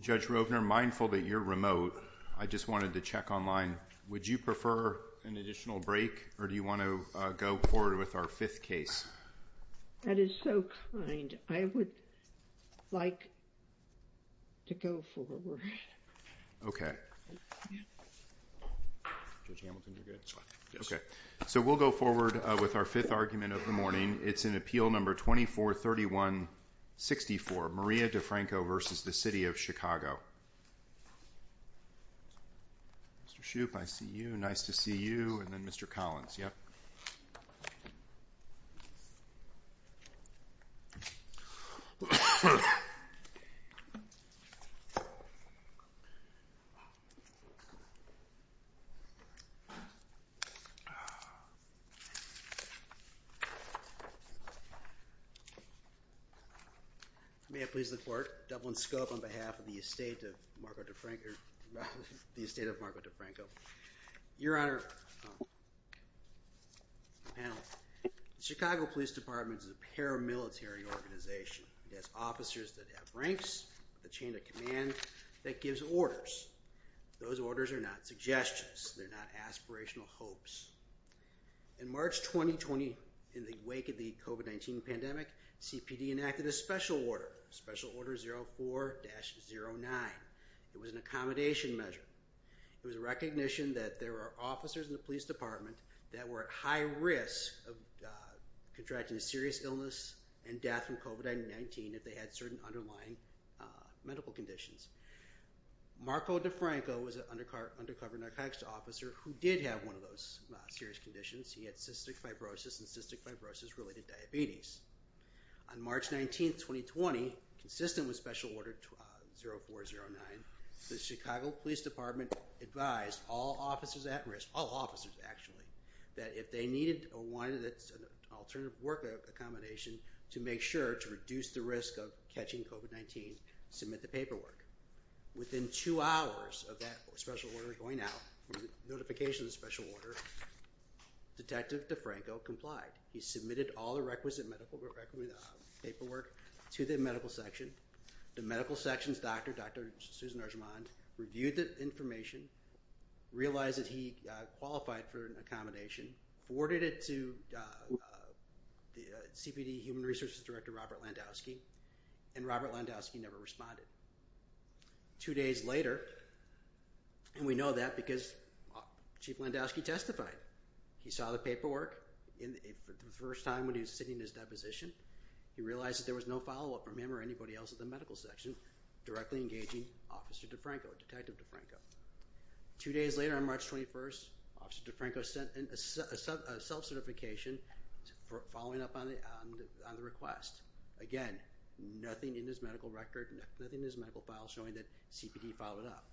Judge Rovner, mindful that you're remote, I just wanted to check online. Would you prefer an additional break, or do you want to go forward with our fifth case? That is so kind. I would like to go forward. Okay. Judge Hamilton, you're good? Yes. Okay. So we'll go forward with our fifth argument of the morning. It's in Appeal No. 2431-64, Maria DiFranco v. City of Chicago. Mr. Shoup, I see you. Nice to see you. And then Mr. Collins, yes. May I please the Court, Dublin Scope, on behalf of the estate of Marco DiFranco. Your Honor, the Chicago Police Department is a paramilitary organization. It has officers that have ranks, a chain of command, that gives orders. Those orders are not suggestions, they're not aspirational hopes. In March 2020, in the wake of the COVID-19 pandemic, CPD enacted a special order, Special Order 04-09. It was an accommodation measure. It was a recognition that there are officers in the police department that were at high risk of contracting a serious illness and death from COVID-19 if they had certain underlying medical conditions. Marco DiFranco was an undercover narcotics officer who did have one of those serious conditions. He had cystic fibrosis and cystic fibrosis-related diabetes. On March 19, 2020, consistent with Special Order 04-09, the Chicago Police Department advised all officers at risk, all officers actually, that if they needed one that's an alternative work accommodation to make sure to reduce the risk of catching COVID-19, submit the paperwork. Within two hours of that special order going out, the notification of the special order, Detective DiFranco complied. He submitted all the requisite medical paperwork to the medical section. The medical section's doctor, Dr. Susan Argimont, reviewed the information, realized that he qualified for an accommodation, forwarded it to the CPD Human Resources Director, Robert Landowski, and Robert Landowski never responded. Two days later, and we know that because Chief Landowski testified. He saw the paperwork for the first time when he was sitting in his deposition. He realized that there was no follow-up from him or anybody else at the medical section directly engaging Officer DiFranco, Detective DiFranco. Two days later, on March 21, Officer DiFranco sent a self-certification following up on the request. Again, nothing in his medical record, nothing in his medical file showing that CPD followed up.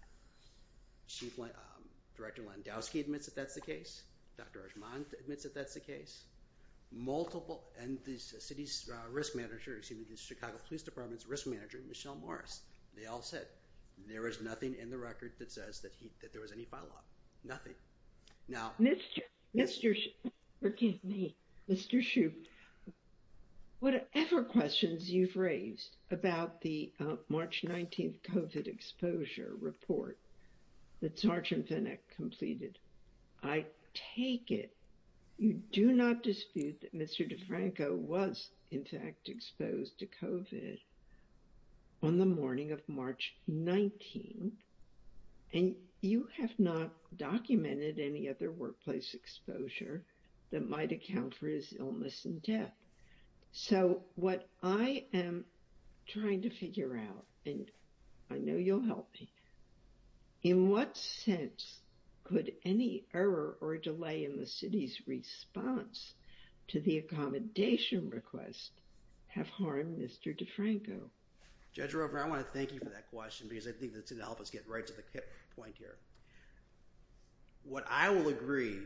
Chief Director Landowski admits that that's the case. Dr. Argimont admits that that's the case. And the city's risk manager, excuse me, the Chicago Police Department's risk manager, Michelle Morris, they all said there is nothing in the record that says that there was any follow-up. Nothing. Now- Mr. Shoup, forgive me, Mr. Shoup, whatever questions you've raised about the March 19th COVID exposure report that Sergeant Fennec completed, I take it you do not dispute that Mr. DiFranco was, in fact, exposed to COVID on the morning of March 19th, and you have not documented any other workplace exposure that might account for his illness and death. So what I am trying to figure out, and I know you'll help me, in what sense could any error or delay in the city's response to the accommodation request have harmed Mr. DiFranco? Judge Roper, I want to thank you for that question because I think it's going to help us get right to the point here. What I will agree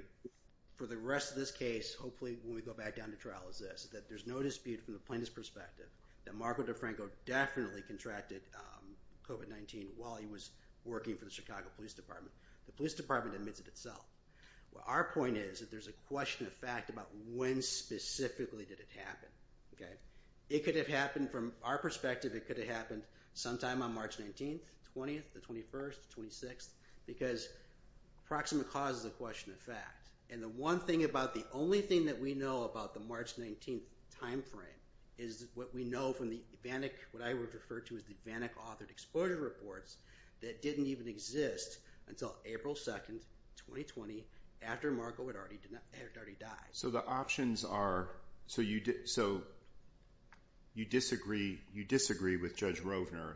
for the rest of this case, hopefully when we go back down to trial, is that there is no dispute from the plaintiff's perspective that Marco DiFranco definitely contracted COVID-19 while he was working for the Chicago Police Department. The Police Department admits it itself. Our point is that there is a question of fact about when specifically did it happen. It could have happened from our perspective, it could have happened sometime on March 19th, 20th, the 21st, the 26th, because proximate cause is a question of fact, and the one thing about, the only thing that we know about the March 19th time frame is what we know from the, what I would refer to as the VanEck Authored Exploited Reports, that didn't even exist until April 2nd, 2020, after Marco had already died. So the options are, so you disagree with Judge Rovner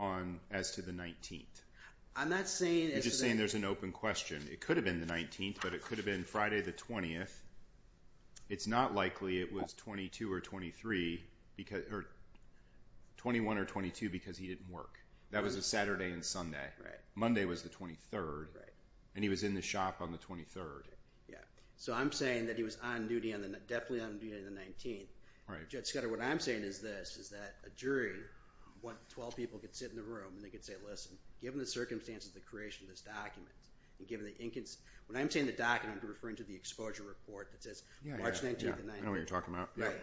on, as to the 19th? I'm not saying... You're just saying there's an open question. It could have been the 19th, but it could have been Friday the 20th. It's not likely it was 22 or 23, or 21 or 22, because he didn't work. That was a Saturday and Sunday. Monday was the 23rd, and he was in the shop on the 23rd. So I'm saying that he was on duty, definitely on duty on the 19th. Judge Scudder, what I'm saying is this, is that a jury, 12 people could sit in the room and they could say, listen, given the circumstances of the creation of this document, and given the incons... When I'm saying the document, I'm referring to the exposure report that says March 19th and 19th. Yeah, I know what you're talking about. Right.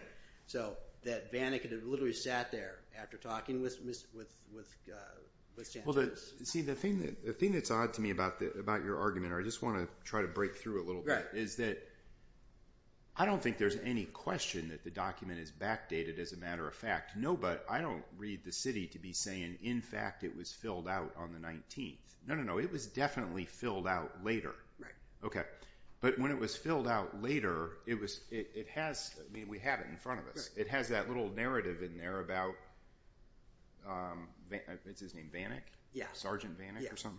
So that VanEck could have literally sat there after talking with Sanchez. See, the thing that's odd to me about your argument, or I just want to try to break through a little bit, is that I don't think there's any question that the document is backdated as a matter of fact. No, but I don't read the city to be saying, in fact, it was filled out on the 19th. No, no, no. It was definitely filled out later. Okay. But when it was filled out later, it has, I mean, we have it in front of us. It has that little narrative in there about, is his name VanEck? Yeah. Sergeant VanEck or something?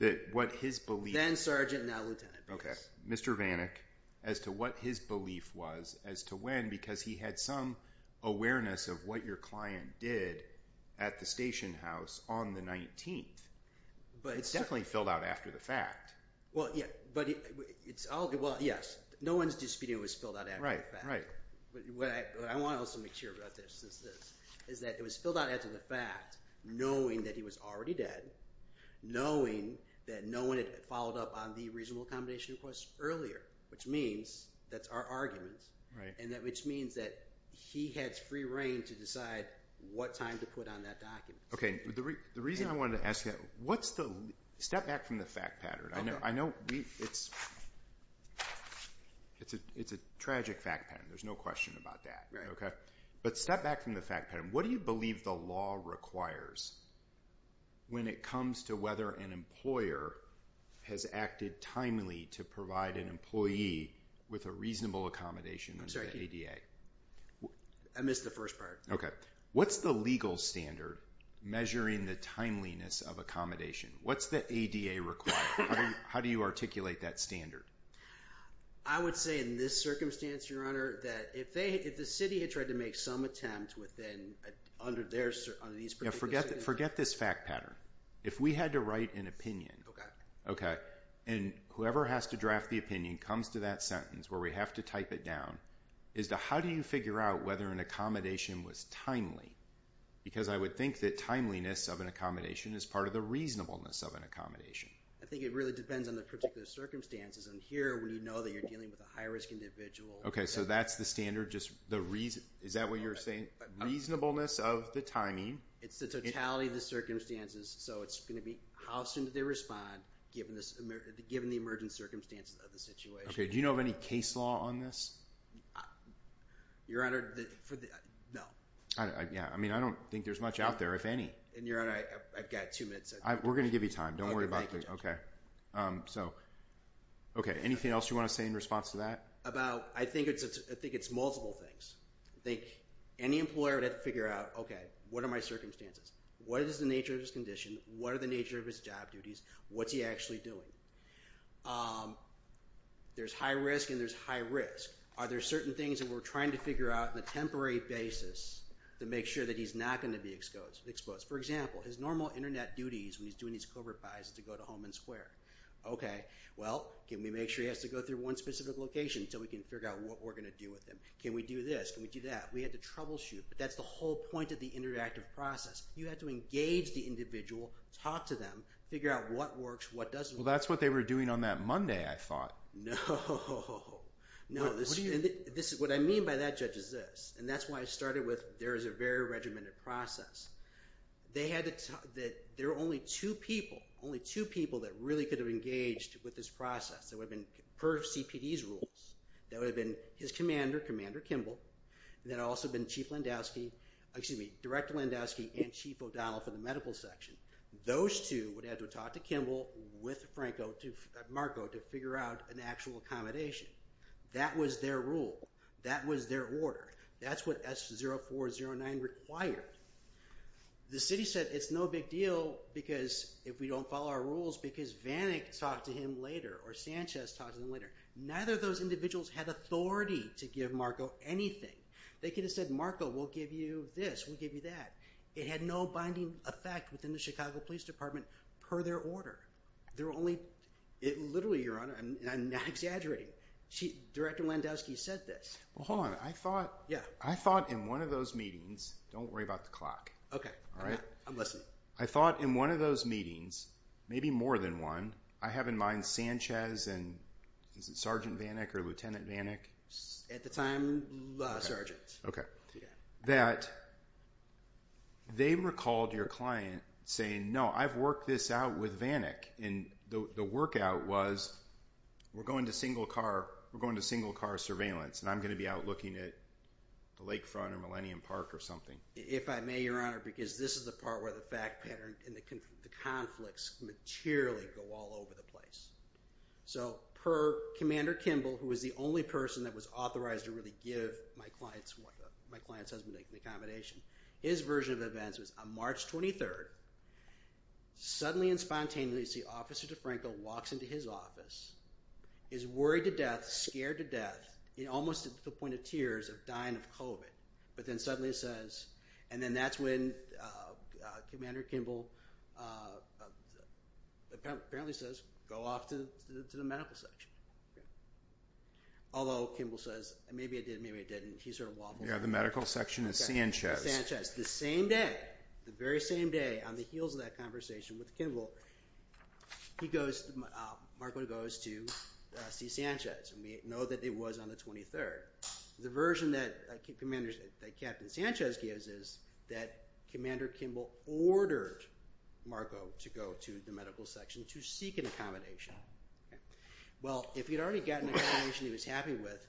Yeah. That what his belief... Then Sergeant, now Lieutenant. Okay. Mr. VanEck, as to what his belief was, as to when, because he had some awareness of what your client did at the station house on the 19th. But it's... It's definitely filled out after the fact. Well, yeah. But it's all... Well, yes. No one's disputing it was filled out after the fact. Right. Right. But what I want to also make sure about this, is that it was filled out after the fact, knowing that he was already dead, knowing that no one had followed up on the reasonable accommodation request earlier, which means that's our argument, and that which means that he has free reign to decide what time to put on that document. Okay. The reason I wanted to ask you, what's the... Step back from the fact pattern. Okay. I know it's a tragic fact pattern. There's no question about that. Right. Okay. But step back from the fact pattern. What do you believe the law requires when it comes to whether an employer has acted timely to provide an employee with a reasonable accommodation in the ADA? I'm sorry. I missed the first part. Okay. What's the legal standard measuring the timeliness of accommodation? What's the ADA require? How do you articulate that standard? I would say in this circumstance, your honor, that if the city had tried to make some attempt within under these particular circumstances... Forget this fact pattern. If we had to write an opinion... Okay. Okay. And whoever has to draft the opinion comes to that sentence where we have to type it how do you figure out whether an accommodation was timely? Because I would think that timeliness of an accommodation is part of the reasonableness of an accommodation. I think it really depends on the particular circumstances. And here, when you know that you're dealing with a high-risk individual... Okay. So that's the standard. Just the reason... Is that what you're saying? Reasonableness of the timing... It's the totality of the circumstances. So it's going to be how soon did they respond given the emergent circumstances of the situation. Okay. And do you know of any case law on this? Your honor, no. Yeah. I mean, I don't think there's much out there, if any. And your honor, I've got two minutes. We're going to give you time. Don't worry about it. So... Okay. Anything else you want to say in response to that? About... I think it's multiple things. I think any employer would have to figure out, okay, what are my circumstances? What is the nature of his condition? What are the nature of his job duties? What's he actually doing? There's high risk and there's high risk. Are there certain things that we're trying to figure out on a temporary basis to make sure that he's not going to be exposed? For example, his normal internet duties when he's doing his corporate buys is to go to home and square. Okay. Well, can we make sure he has to go through one specific location so we can figure out what we're going to do with him? Can we do this? Can we do that? We have to troubleshoot. But that's the whole point of the interactive process. You have to engage the individual, talk to them, figure out what works, what doesn't. Well, that's what they were doing on that Monday, I thought. No. No. What do you mean? What I mean by that, Judge, is this, and that's why I started with, there is a very regimented process. They had to talk that there are only two people, only two people that really could have engaged with this process. That would have been per CPD's rules. That would have been his commander, Commander Kimball, and then also been Chief Landowski, excuse me, Director Landowski and Chief O'Donnell for the medical section. Those two would have to talk to Kimball with Marco to figure out an actual accommodation. That was their rule. That was their order. That's what S0409 required. The city said it's no big deal because if we don't follow our rules because Vanek talked to him later or Sanchez talked to him later, neither of those individuals had authority to give Marco anything. They could have said, Marco, we'll give you this, we'll give you that. It had no binding effect within the Chicago Police Department per their order. There were only, literally, Your Honor, I'm not exaggerating, Director Landowski said this. Well, hold on. I thought in one of those meetings, don't worry about the clock, I thought in one of those meetings, maybe more than one, I have in mind Sanchez and is it Sergeant Vanek or Lieutenant Vanek? At the time, Sergeant. That they recalled your client saying, no, I've worked this out with Vanek and the workout was we're going to single car surveillance and I'm going to be out looking at the lakefront or Millennium Park or something. If I may, Your Honor, because this is the part where the fact pattern and the conflicts materially go all over the place. So per Commander Kimball, who was the only person that was authorized to really give my client's husband an accommodation, his version of events was on March 23rd, suddenly and spontaneously, you see Officer DeFranco walks into his office, is worried to death, scared to death, almost to the point of tears of dying of COVID, but then suddenly says, and then that's when Commander Kimball apparently says, go off to the medical section. Although Kimball says, maybe I did, maybe I didn't, he sort of waddled off. The medical section is Sanchez. The same day, the very same day, on the heels of that conversation with Kimball, Marco goes to see Sanchez and we know that it was on the 23rd. The version that Captain Sanchez gives is that Commander Kimball ordered Marco to go to the medical section to seek an accommodation. Well, if he'd already gotten an accommodation he was happy with,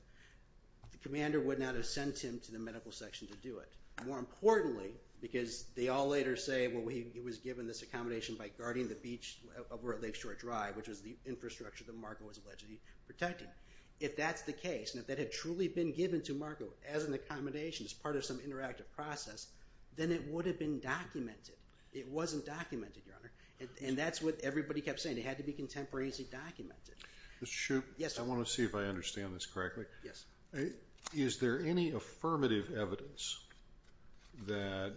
the commander would not have sent him to the medical section to do it. More importantly, because they all later say, well, he was given this accommodation by guarding the beach over at Lakeshore Drive, which was the infrastructure that Marco was allegedly protecting. If that's the case, and if that had truly been given to Marco as an accommodation, as part of some interactive process, then it would have been documented. It wasn't documented, Your Honor, and that's what everybody kept saying. It had to be contemporaneously documented. Mr. Shoup. Yes. I want to see if I understand this correctly. Yes. Is there any affirmative evidence that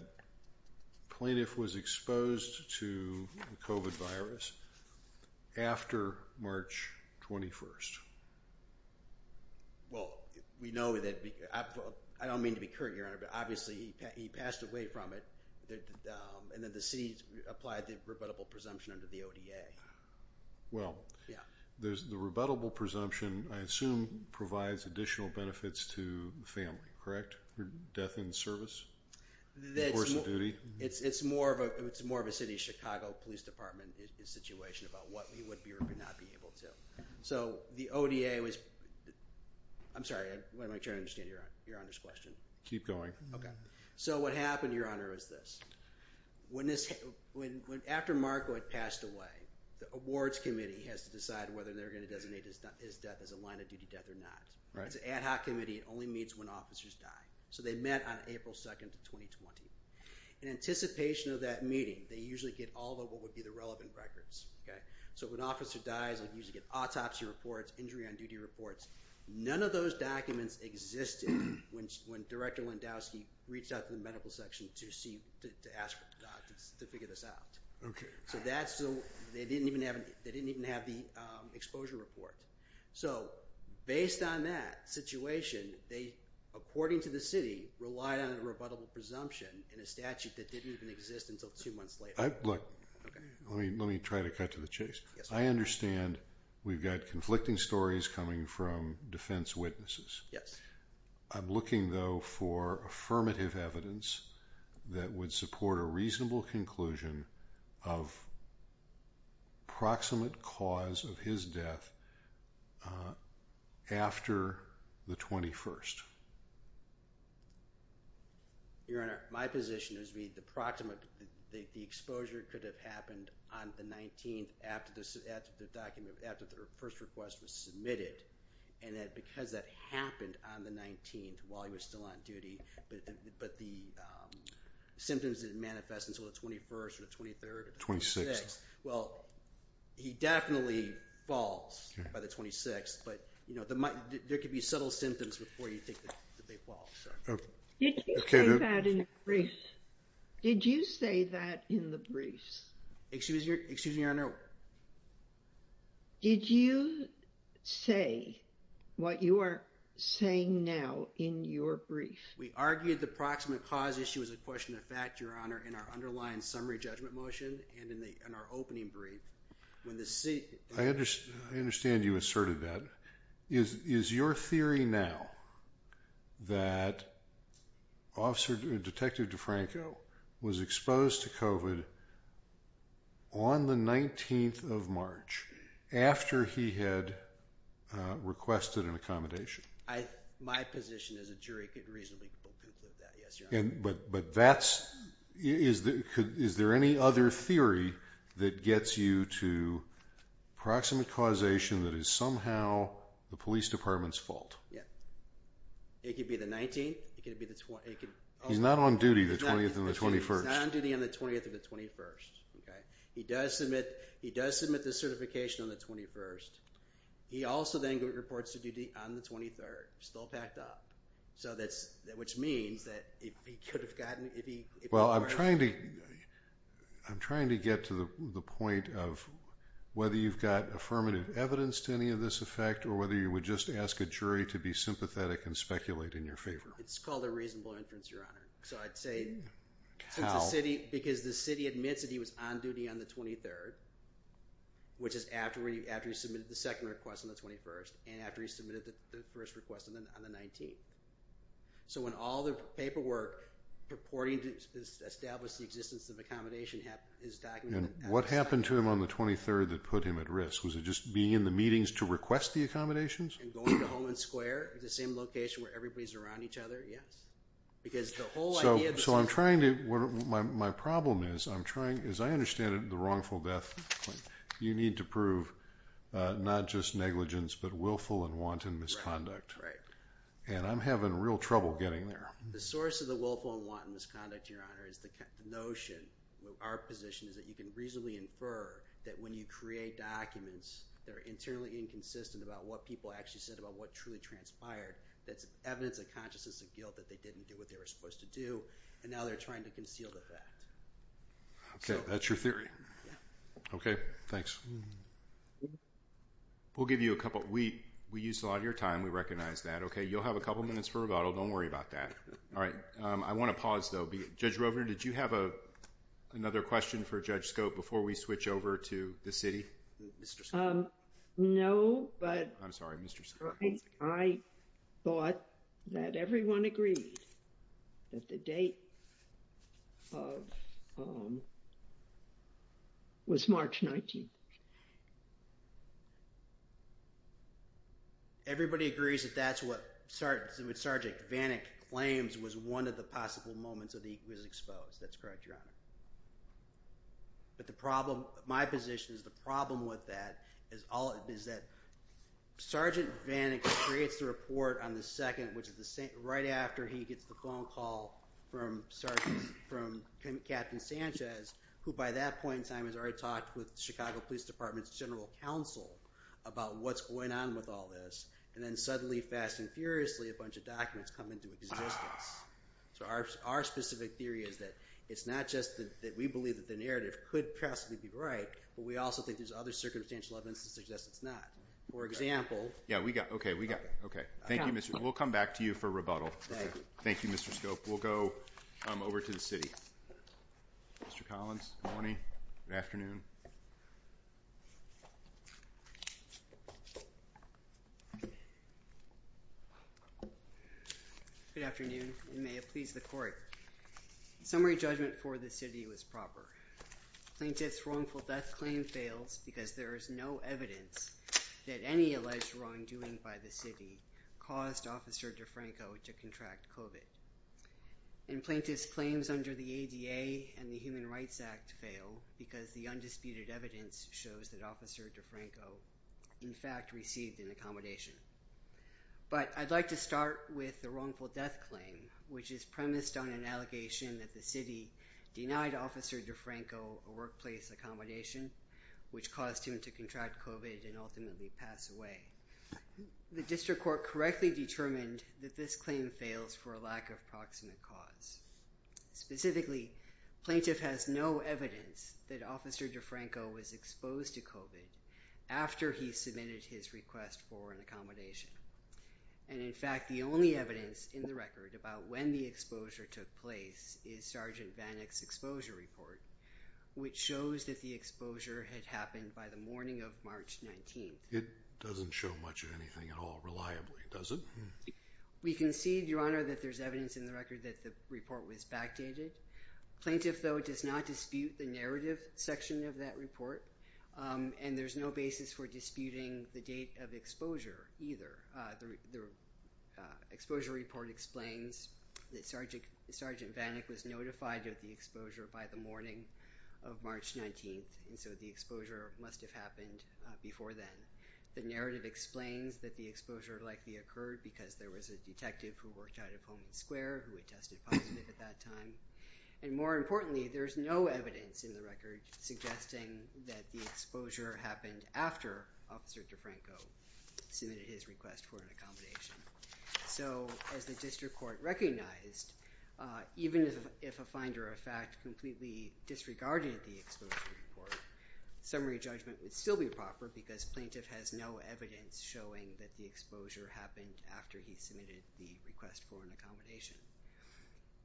plaintiff was exposed to COVID virus after March 21st? Well, we know that, I don't mean to be curt, Your Honor, but obviously he passed away from it and then the city applied the rebuttable presumption under the ODA. Well, the rebuttable presumption, I assume, provides additional benefits to the family, correct? Death in service? It's more of a city of Chicago Police Department situation about what he would be or could not be able to. So the ODA was, I'm sorry, I'm trying to understand Your Honor's question. Keep going. Okay. So what happened, Your Honor, is this. After Marco had passed away, the awards committee has to decide whether they're going to designate his death as a line of duty death or not. Right. It's an ad hoc committee. It only meets when officers die. So they met on April 2nd of 2020. In anticipation of that meeting, they usually get all of what would be the relevant records, okay? So when an officer dies, they usually get autopsy reports, injury on duty reports. None of those documents existed when Director Lewandowski reached out to the medical section to ask for documents to figure this out. So they didn't even have the exposure report. So, based on that situation, they, according to the city, relied on a rebuttable presumption in a statute that didn't even exist until two months later. Look, let me try to cut to the chase. Yes, Your Honor. I understand we've got conflicting stories coming from defense witnesses. Yes. I'm looking, though, for affirmative evidence that would support a reasonable conclusion of proximate cause of his death after the 21st. Your Honor, my position is the proximate, the exposure could have happened on the 19th after the first request was submitted, and that because that happened on the 19th while he was still on duty, but the symptoms didn't manifest until the 21st or the 23rd or the 26th. Well, he definitely falls by the 26th, but, you know, there could be subtle symptoms before you think that they fall, so. Did you say that in the briefs? Did you say that in the briefs? Excuse me, Your Honor. Did you say what you are saying now in your brief? We argued the proximate cause issue was a question of fact, Your Honor, in our underlying summary judgment motion and in our opening brief. I understand you asserted that. Is your theory now that Detective DeFranco was exposed to COVID on the 19th of March after he had requested an accommodation? My position as a jury could reasonably conclude that, yes, Your Honor. But that's, is there any other theory that gets you to proximate causation that is somehow the police department's fault? Yeah. It could be the 19th. It could be the 20th. He's not on duty the 20th and the 21st. He's not on duty on the 20th or the 21st. Okay. He does submit, he does submit the certification on the 21st. He also then reports to duty on the 23rd, still packed up. So that's, which means that if he could have gotten, if he. Well, I'm trying to, I'm trying to get to the point of whether you've got affirmative evidence to any of this effect or whether you would just ask a jury to be sympathetic and speculate in your favor. It's called a reasonable inference, Your Honor. So I'd say. How? Because the city admits that he was on duty on the 23rd, which is after he submitted the second request on the 21st and after he submitted the first request on the 19th. So when all the paperwork purporting to establish the existence of accommodation is documented. And what happened to him on the 23rd that put him at risk? Was it just being in the meetings to request the accommodations? And going to Holman Square, the same location where everybody's around each other? Yes. Because the whole idea. So I'm trying to, my problem is I'm trying, as I understand it, the wrongful death, you need to prove not just negligence, but willful and wanton misconduct. Right. And I'm having real trouble getting there. The source of the willful and wanton misconduct, Your Honor, is the notion, our position is that you can reasonably infer that when you create documents that are internally inconsistent about what people actually said about what truly transpired, that's evidence of consciousness of guilt that they didn't do what they were supposed to do. And now they're trying to conceal the fact. Okay. That's your theory? Yeah. Okay. Thanks. We'll give you a couple. We used a lot of your time. We recognize that. Okay. You'll have a couple minutes for rebuttal. Don't worry about that. All right. I want to pause though. Judge Rovner, did you have another question for Judge Scope before we switch over to the city? No, but... I'm sorry. Mr. Scope. Hold on a second. I thought that everyone agreed that the date was March 19th. Everybody agrees that that's what Sergeant Vannick claims was one of the possible moments that he was exposed. That's correct, Your Honor. But my position is the problem with that is that Sergeant Vannick creates the report on the 2nd, which is right after he gets the phone call from Captain Sanchez, who by that point in time has already talked with Chicago Police Department's General Counsel about what's going on with all this. And then suddenly, fast and furiously, a bunch of documents come into existence. So our specific theory is that it's not just that we believe that the narrative could possibly be right, but we also think there's other circumstantial evidence that suggests it's not. For example... Yeah, we got it. Okay, we got it. Thank you, Mr. Scope. We'll come back to you for rebuttal. Thank you. Thank you, Mr. Scope. We'll go over to the city. Mr. Collins. Good morning. Good afternoon. Good afternoon, and may it please the Court. Summary judgment for the city was proper. Plaintiff's wrongful death claim fails because there is no evidence that any alleged wrongdoing by the city caused Officer DeFranco to contract COVID. And plaintiff's claims under the ADA and the Human Rights Act fail because the undecided evidence shows that Officer DeFranco, in fact, received an accommodation. But I'd like to start with the wrongful death claim, which is premised on an allegation that the city denied Officer DeFranco a workplace accommodation, which caused him to contract COVID and ultimately pass away. The district court correctly determined that this claim fails for a lack of proximate cause. Specifically, plaintiff has no evidence that Officer DeFranco was exposed to COVID after he submitted his request for an accommodation. And in fact, the only evidence in the record about when the exposure took place is Sergeant Vanek's exposure report, which shows that the exposure had happened by the morning of March 19th. It doesn't show much of anything at all reliably, does it? We concede, Your Honor, that there's evidence in the record that the report was backdated. Plaintiff, though, does not dispute the narrative section of that report, and there's no basis for disputing the date of exposure either. The exposure report explains that Sergeant Vanek was notified of the exposure by the morning of March 19th, and so the exposure must have happened before then. The narrative explains that the exposure likely occurred because there was a detective who worked out of Homing Square who had tested positive at that time. And more importantly, there's no evidence in the record suggesting that the exposure happened after Officer DeFranco submitted his request for an accommodation. So as the district court recognized, even if a finder of fact completely disregarded the exposure report, summary judgment would still be proper because plaintiff has no evidence showing that the exposure happened after he submitted the request for an accommodation.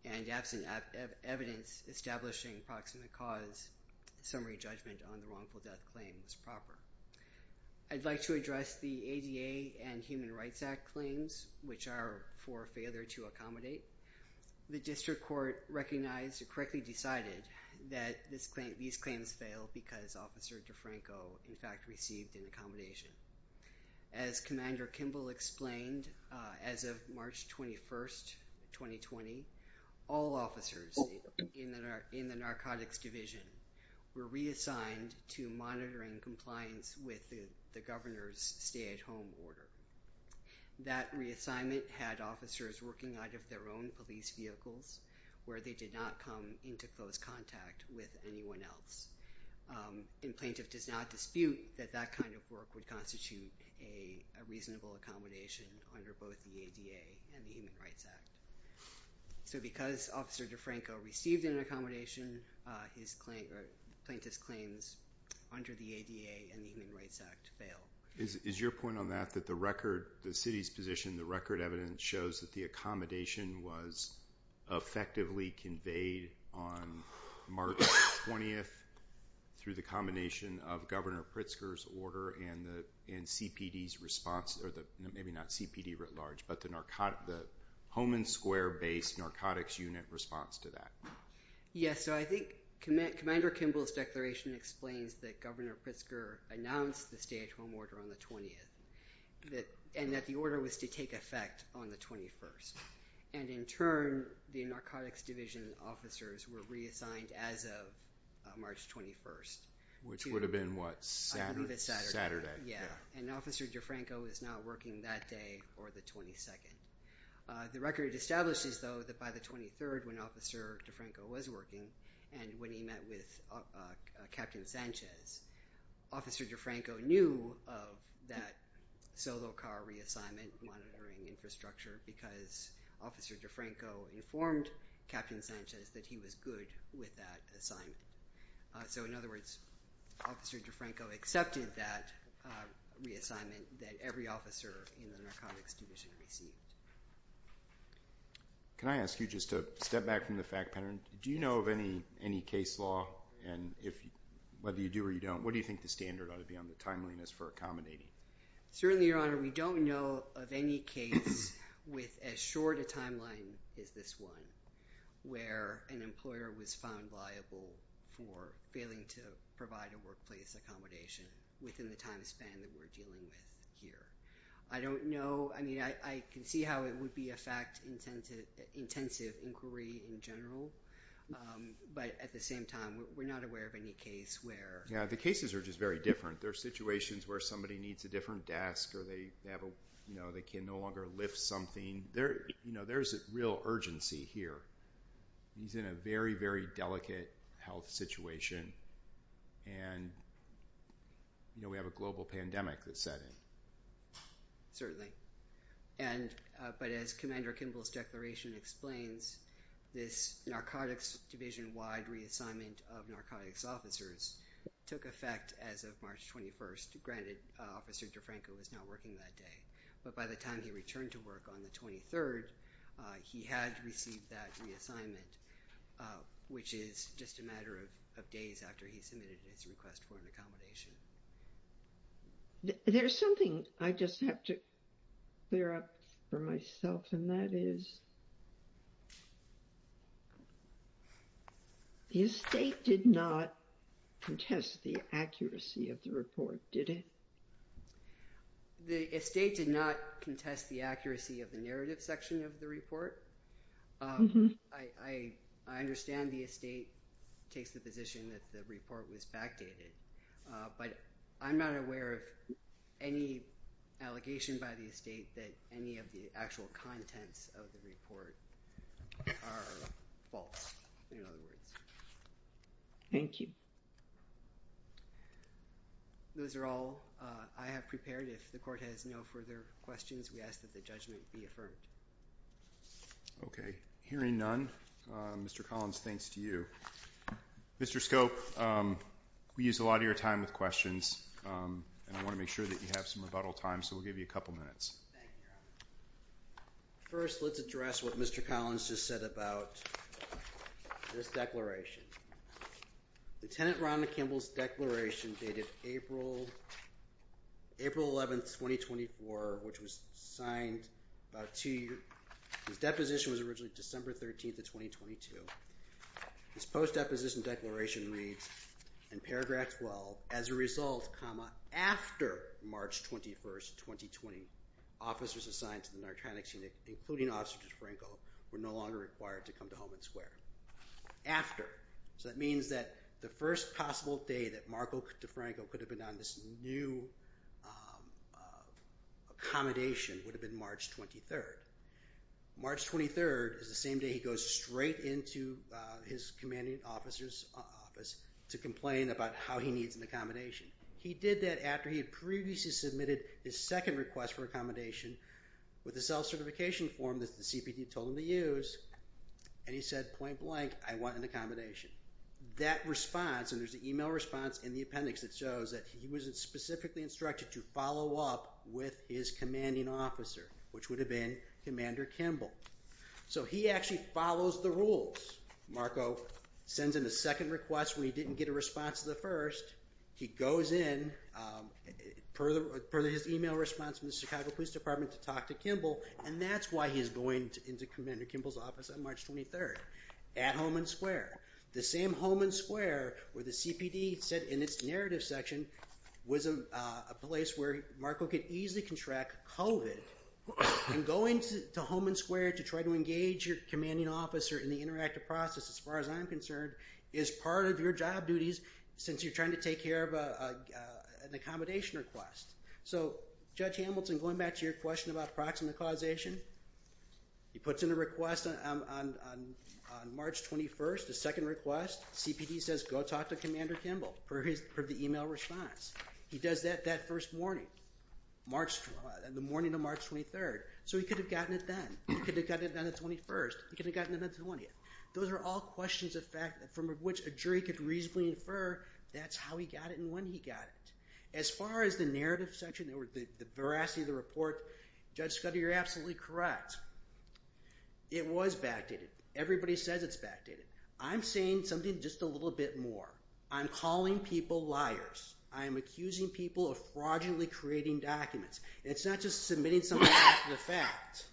And absent evidence establishing proximate cause, summary judgment on the wrongful death claim was proper. I'd like to address the ADA and Human Rights Act claims, which are for failure to accommodate. The district court recognized or correctly decided that these claims fail because Officer DeFranco in fact received an accommodation. As Commander Kimball explained, as of March 21st, 2020, all officers in the Narcotics Division were reassigned to monitoring compliance with the governor's stay-at-home order. That reassignment had officers working out of their own police vehicles where they did not come into close contact with anyone else. And plaintiff does not dispute that that kind of work would constitute a reasonable accommodation under both the ADA and the Human Rights Act. So because Officer DeFranco received an accommodation, plaintiff's claims under the ADA and the Human Rights Act fail. Is your point on that that the record, the city's position, the record evidence shows that the accommodation was effectively conveyed on March 20th through the combination of Governor Pritzker's order and CPD's response, or maybe not CPD writ large, but the Homan Square-based Narcotics Unit response to that? Yes. So I think Commander Kimball's declaration explains that Governor Pritzker announced the stay-at-home order on the 20th and that the order was to take effect on the 21st. And in turn, the Narcotics Division officers were reassigned as of March 21st. Which would have been, what, Saturday? Saturday, yeah. And Officer DeFranco was not working that day or the 22nd. The record establishes, though, that by the 23rd, when Officer DeFranco was working and when he met with Captain Sanchez, Officer DeFranco knew of that solo car reassignment monitoring infrastructure because Officer DeFranco informed Captain Sanchez that he was good with that assignment. So, in other words, Officer DeFranco accepted that reassignment that every officer in the Narcotics Division received. Can I ask you just to step back from the fact pattern? Do you know of any case law? And whether you do or you don't, what do you think the standard ought to be on the timeliness for accommodating? Certainly, Your Honor, we don't know of any case with as short a timeline as this one where an employer was found liable for failing to provide a workplace accommodation within the time span that we're dealing with here. I don't know. I mean, I can see how it would be a fact-intensive inquiry in general. But at the same time, we're not aware of any case where... Yeah, the cases are just very different. There are situations where somebody needs a different desk or they can no longer lift something. There's a real urgency here. He's in a very, very delicate health situation. And we have a global pandemic that's setting. But as Commander Kimball's declaration explains, this Narcotics Division-wide reassignment of narcotics officers took effect as of March 21st. Granted, Officer DeFranco was not working that day. But by the time he returned to work on the 23rd, he had received that reassignment, which is just a matter of days after he submitted his request for an accommodation. There's something I just have to clear up for myself, and that is the estate did not contest the accuracy of the report, did it? The estate did not contest the accuracy of the narrative section of the report. I understand the estate takes the position that the report was backdated. But I'm not aware of any allegation by the estate that any of the actual contents of the report are false, in other words. Thank you. Those are all I have prepared. If the Court has no further questions, we ask that the judgment be affirmed. Okay. Hearing none, Mr. Collins, thanks to you. Mr. Scope, we use a lot of your time with questions, and I want to make sure that you have some rebuttal time, so we'll give you a couple minutes. Thank you, Your Honor. First, let's address what Mr. Collins just said about this declaration. Lieutenant Ronald Kimball's declaration dated April 11, 2024, which was signed about two years ago. His deposition was originally December 13, 2022. His post-deposition declaration reads, in paragraph 12, as a result, comma, after March 21, 2020, officers assigned to the narcotics unit, including Officer DeFranco, were no longer required to come to Holman Square. After, so that means that the first possible day that Marco DeFranco could have been on this new accommodation would have been March 23rd. March 23rd is the same day he goes straight into his commanding officer's office to complain about how he needs an accommodation. He did that after he had previously submitted his second request for accommodation with a self-certification form that the CPD told him to use, and he said, point blank, I want an accommodation. That response, and there's an email response in the appendix that shows that he was specifically instructed to follow up with his commanding officer, which would have been Commander Kimball. So he actually follows the rules. Marco sends in a second request where he didn't get a response to the first. He goes in, per his email response from the Chicago Police Department, to talk to Kimball, and that's why he's going into Commander Kimball's office on March 23rd at Holman Square. The same Holman Square where the CPD said in its narrative section was a place where Marco could easily contract COVID, and going to Holman Square to try to engage your commanding officer in the interactive process, as far as I'm concerned, is part of your job duties since you're trying to take care of an accommodation request. So Judge Hamilton, going back to your question about proximate causation, he puts in a request on March 21st, a second request. CPD says go talk to Commander Kimball, per the email response. He does that that first morning, the morning of March 23rd. So he could have gotten it then. He could have gotten it on the 21st. He could have gotten it on the 20th. Those are all questions from which a jury could reasonably infer that's how he got it and when he got it. As far as the narrative section, the veracity of the report, Judge Scudder, you're absolutely correct. It was backdated. Everybody says it's backdated. I'm saying something just a little bit more. I'm calling people liars. I am accusing people of fraudulently creating documents. It's not just submitting something after the fact.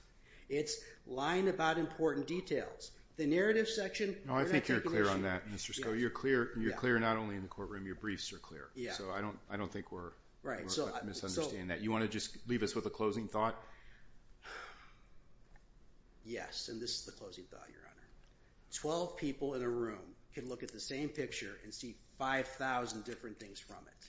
It's lying about important details. The narrative section, we're not taking issue. No, I think you're clear on that, Mr. Scudder. You're clear not only in the courtroom. Your briefs are clear. So I don't think we're misunderstanding that. You want to just leave us with a closing thought? Yes, and this is the closing thought, Your Honor. Twelve people in a room can look at the same picture and see 5,000 different things from it.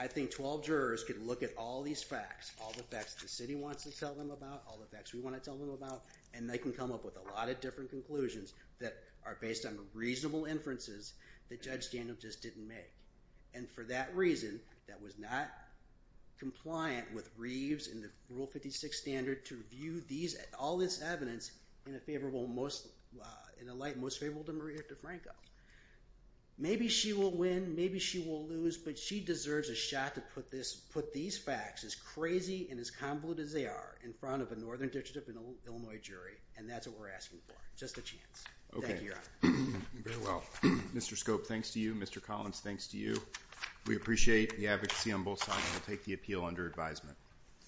I think 12 jurors could look at all these facts, all the facts the city wants to tell them about, all the facts we want to tell them about, and they can come up with a lot of different conclusions that are based on reasonable inferences that Judge Daniel just didn't make. And for that reason, that was not compliant with Reeves and the Rule 56 standard to view all this evidence in a light most favorable to Maria DeFranco. Maybe she will win, maybe she will lose, but she deserves a shot to put these facts, as crazy and as convoluted as they are, in front of a Northern District of Illinois jury, and that's what we're asking for, just a chance. Thank you, Your Honor. Very well. Mr. Scope, thanks to you. Mr. Collins, thanks to you. We appreciate the advocacy on both sides. We'll take the appeal under advisement.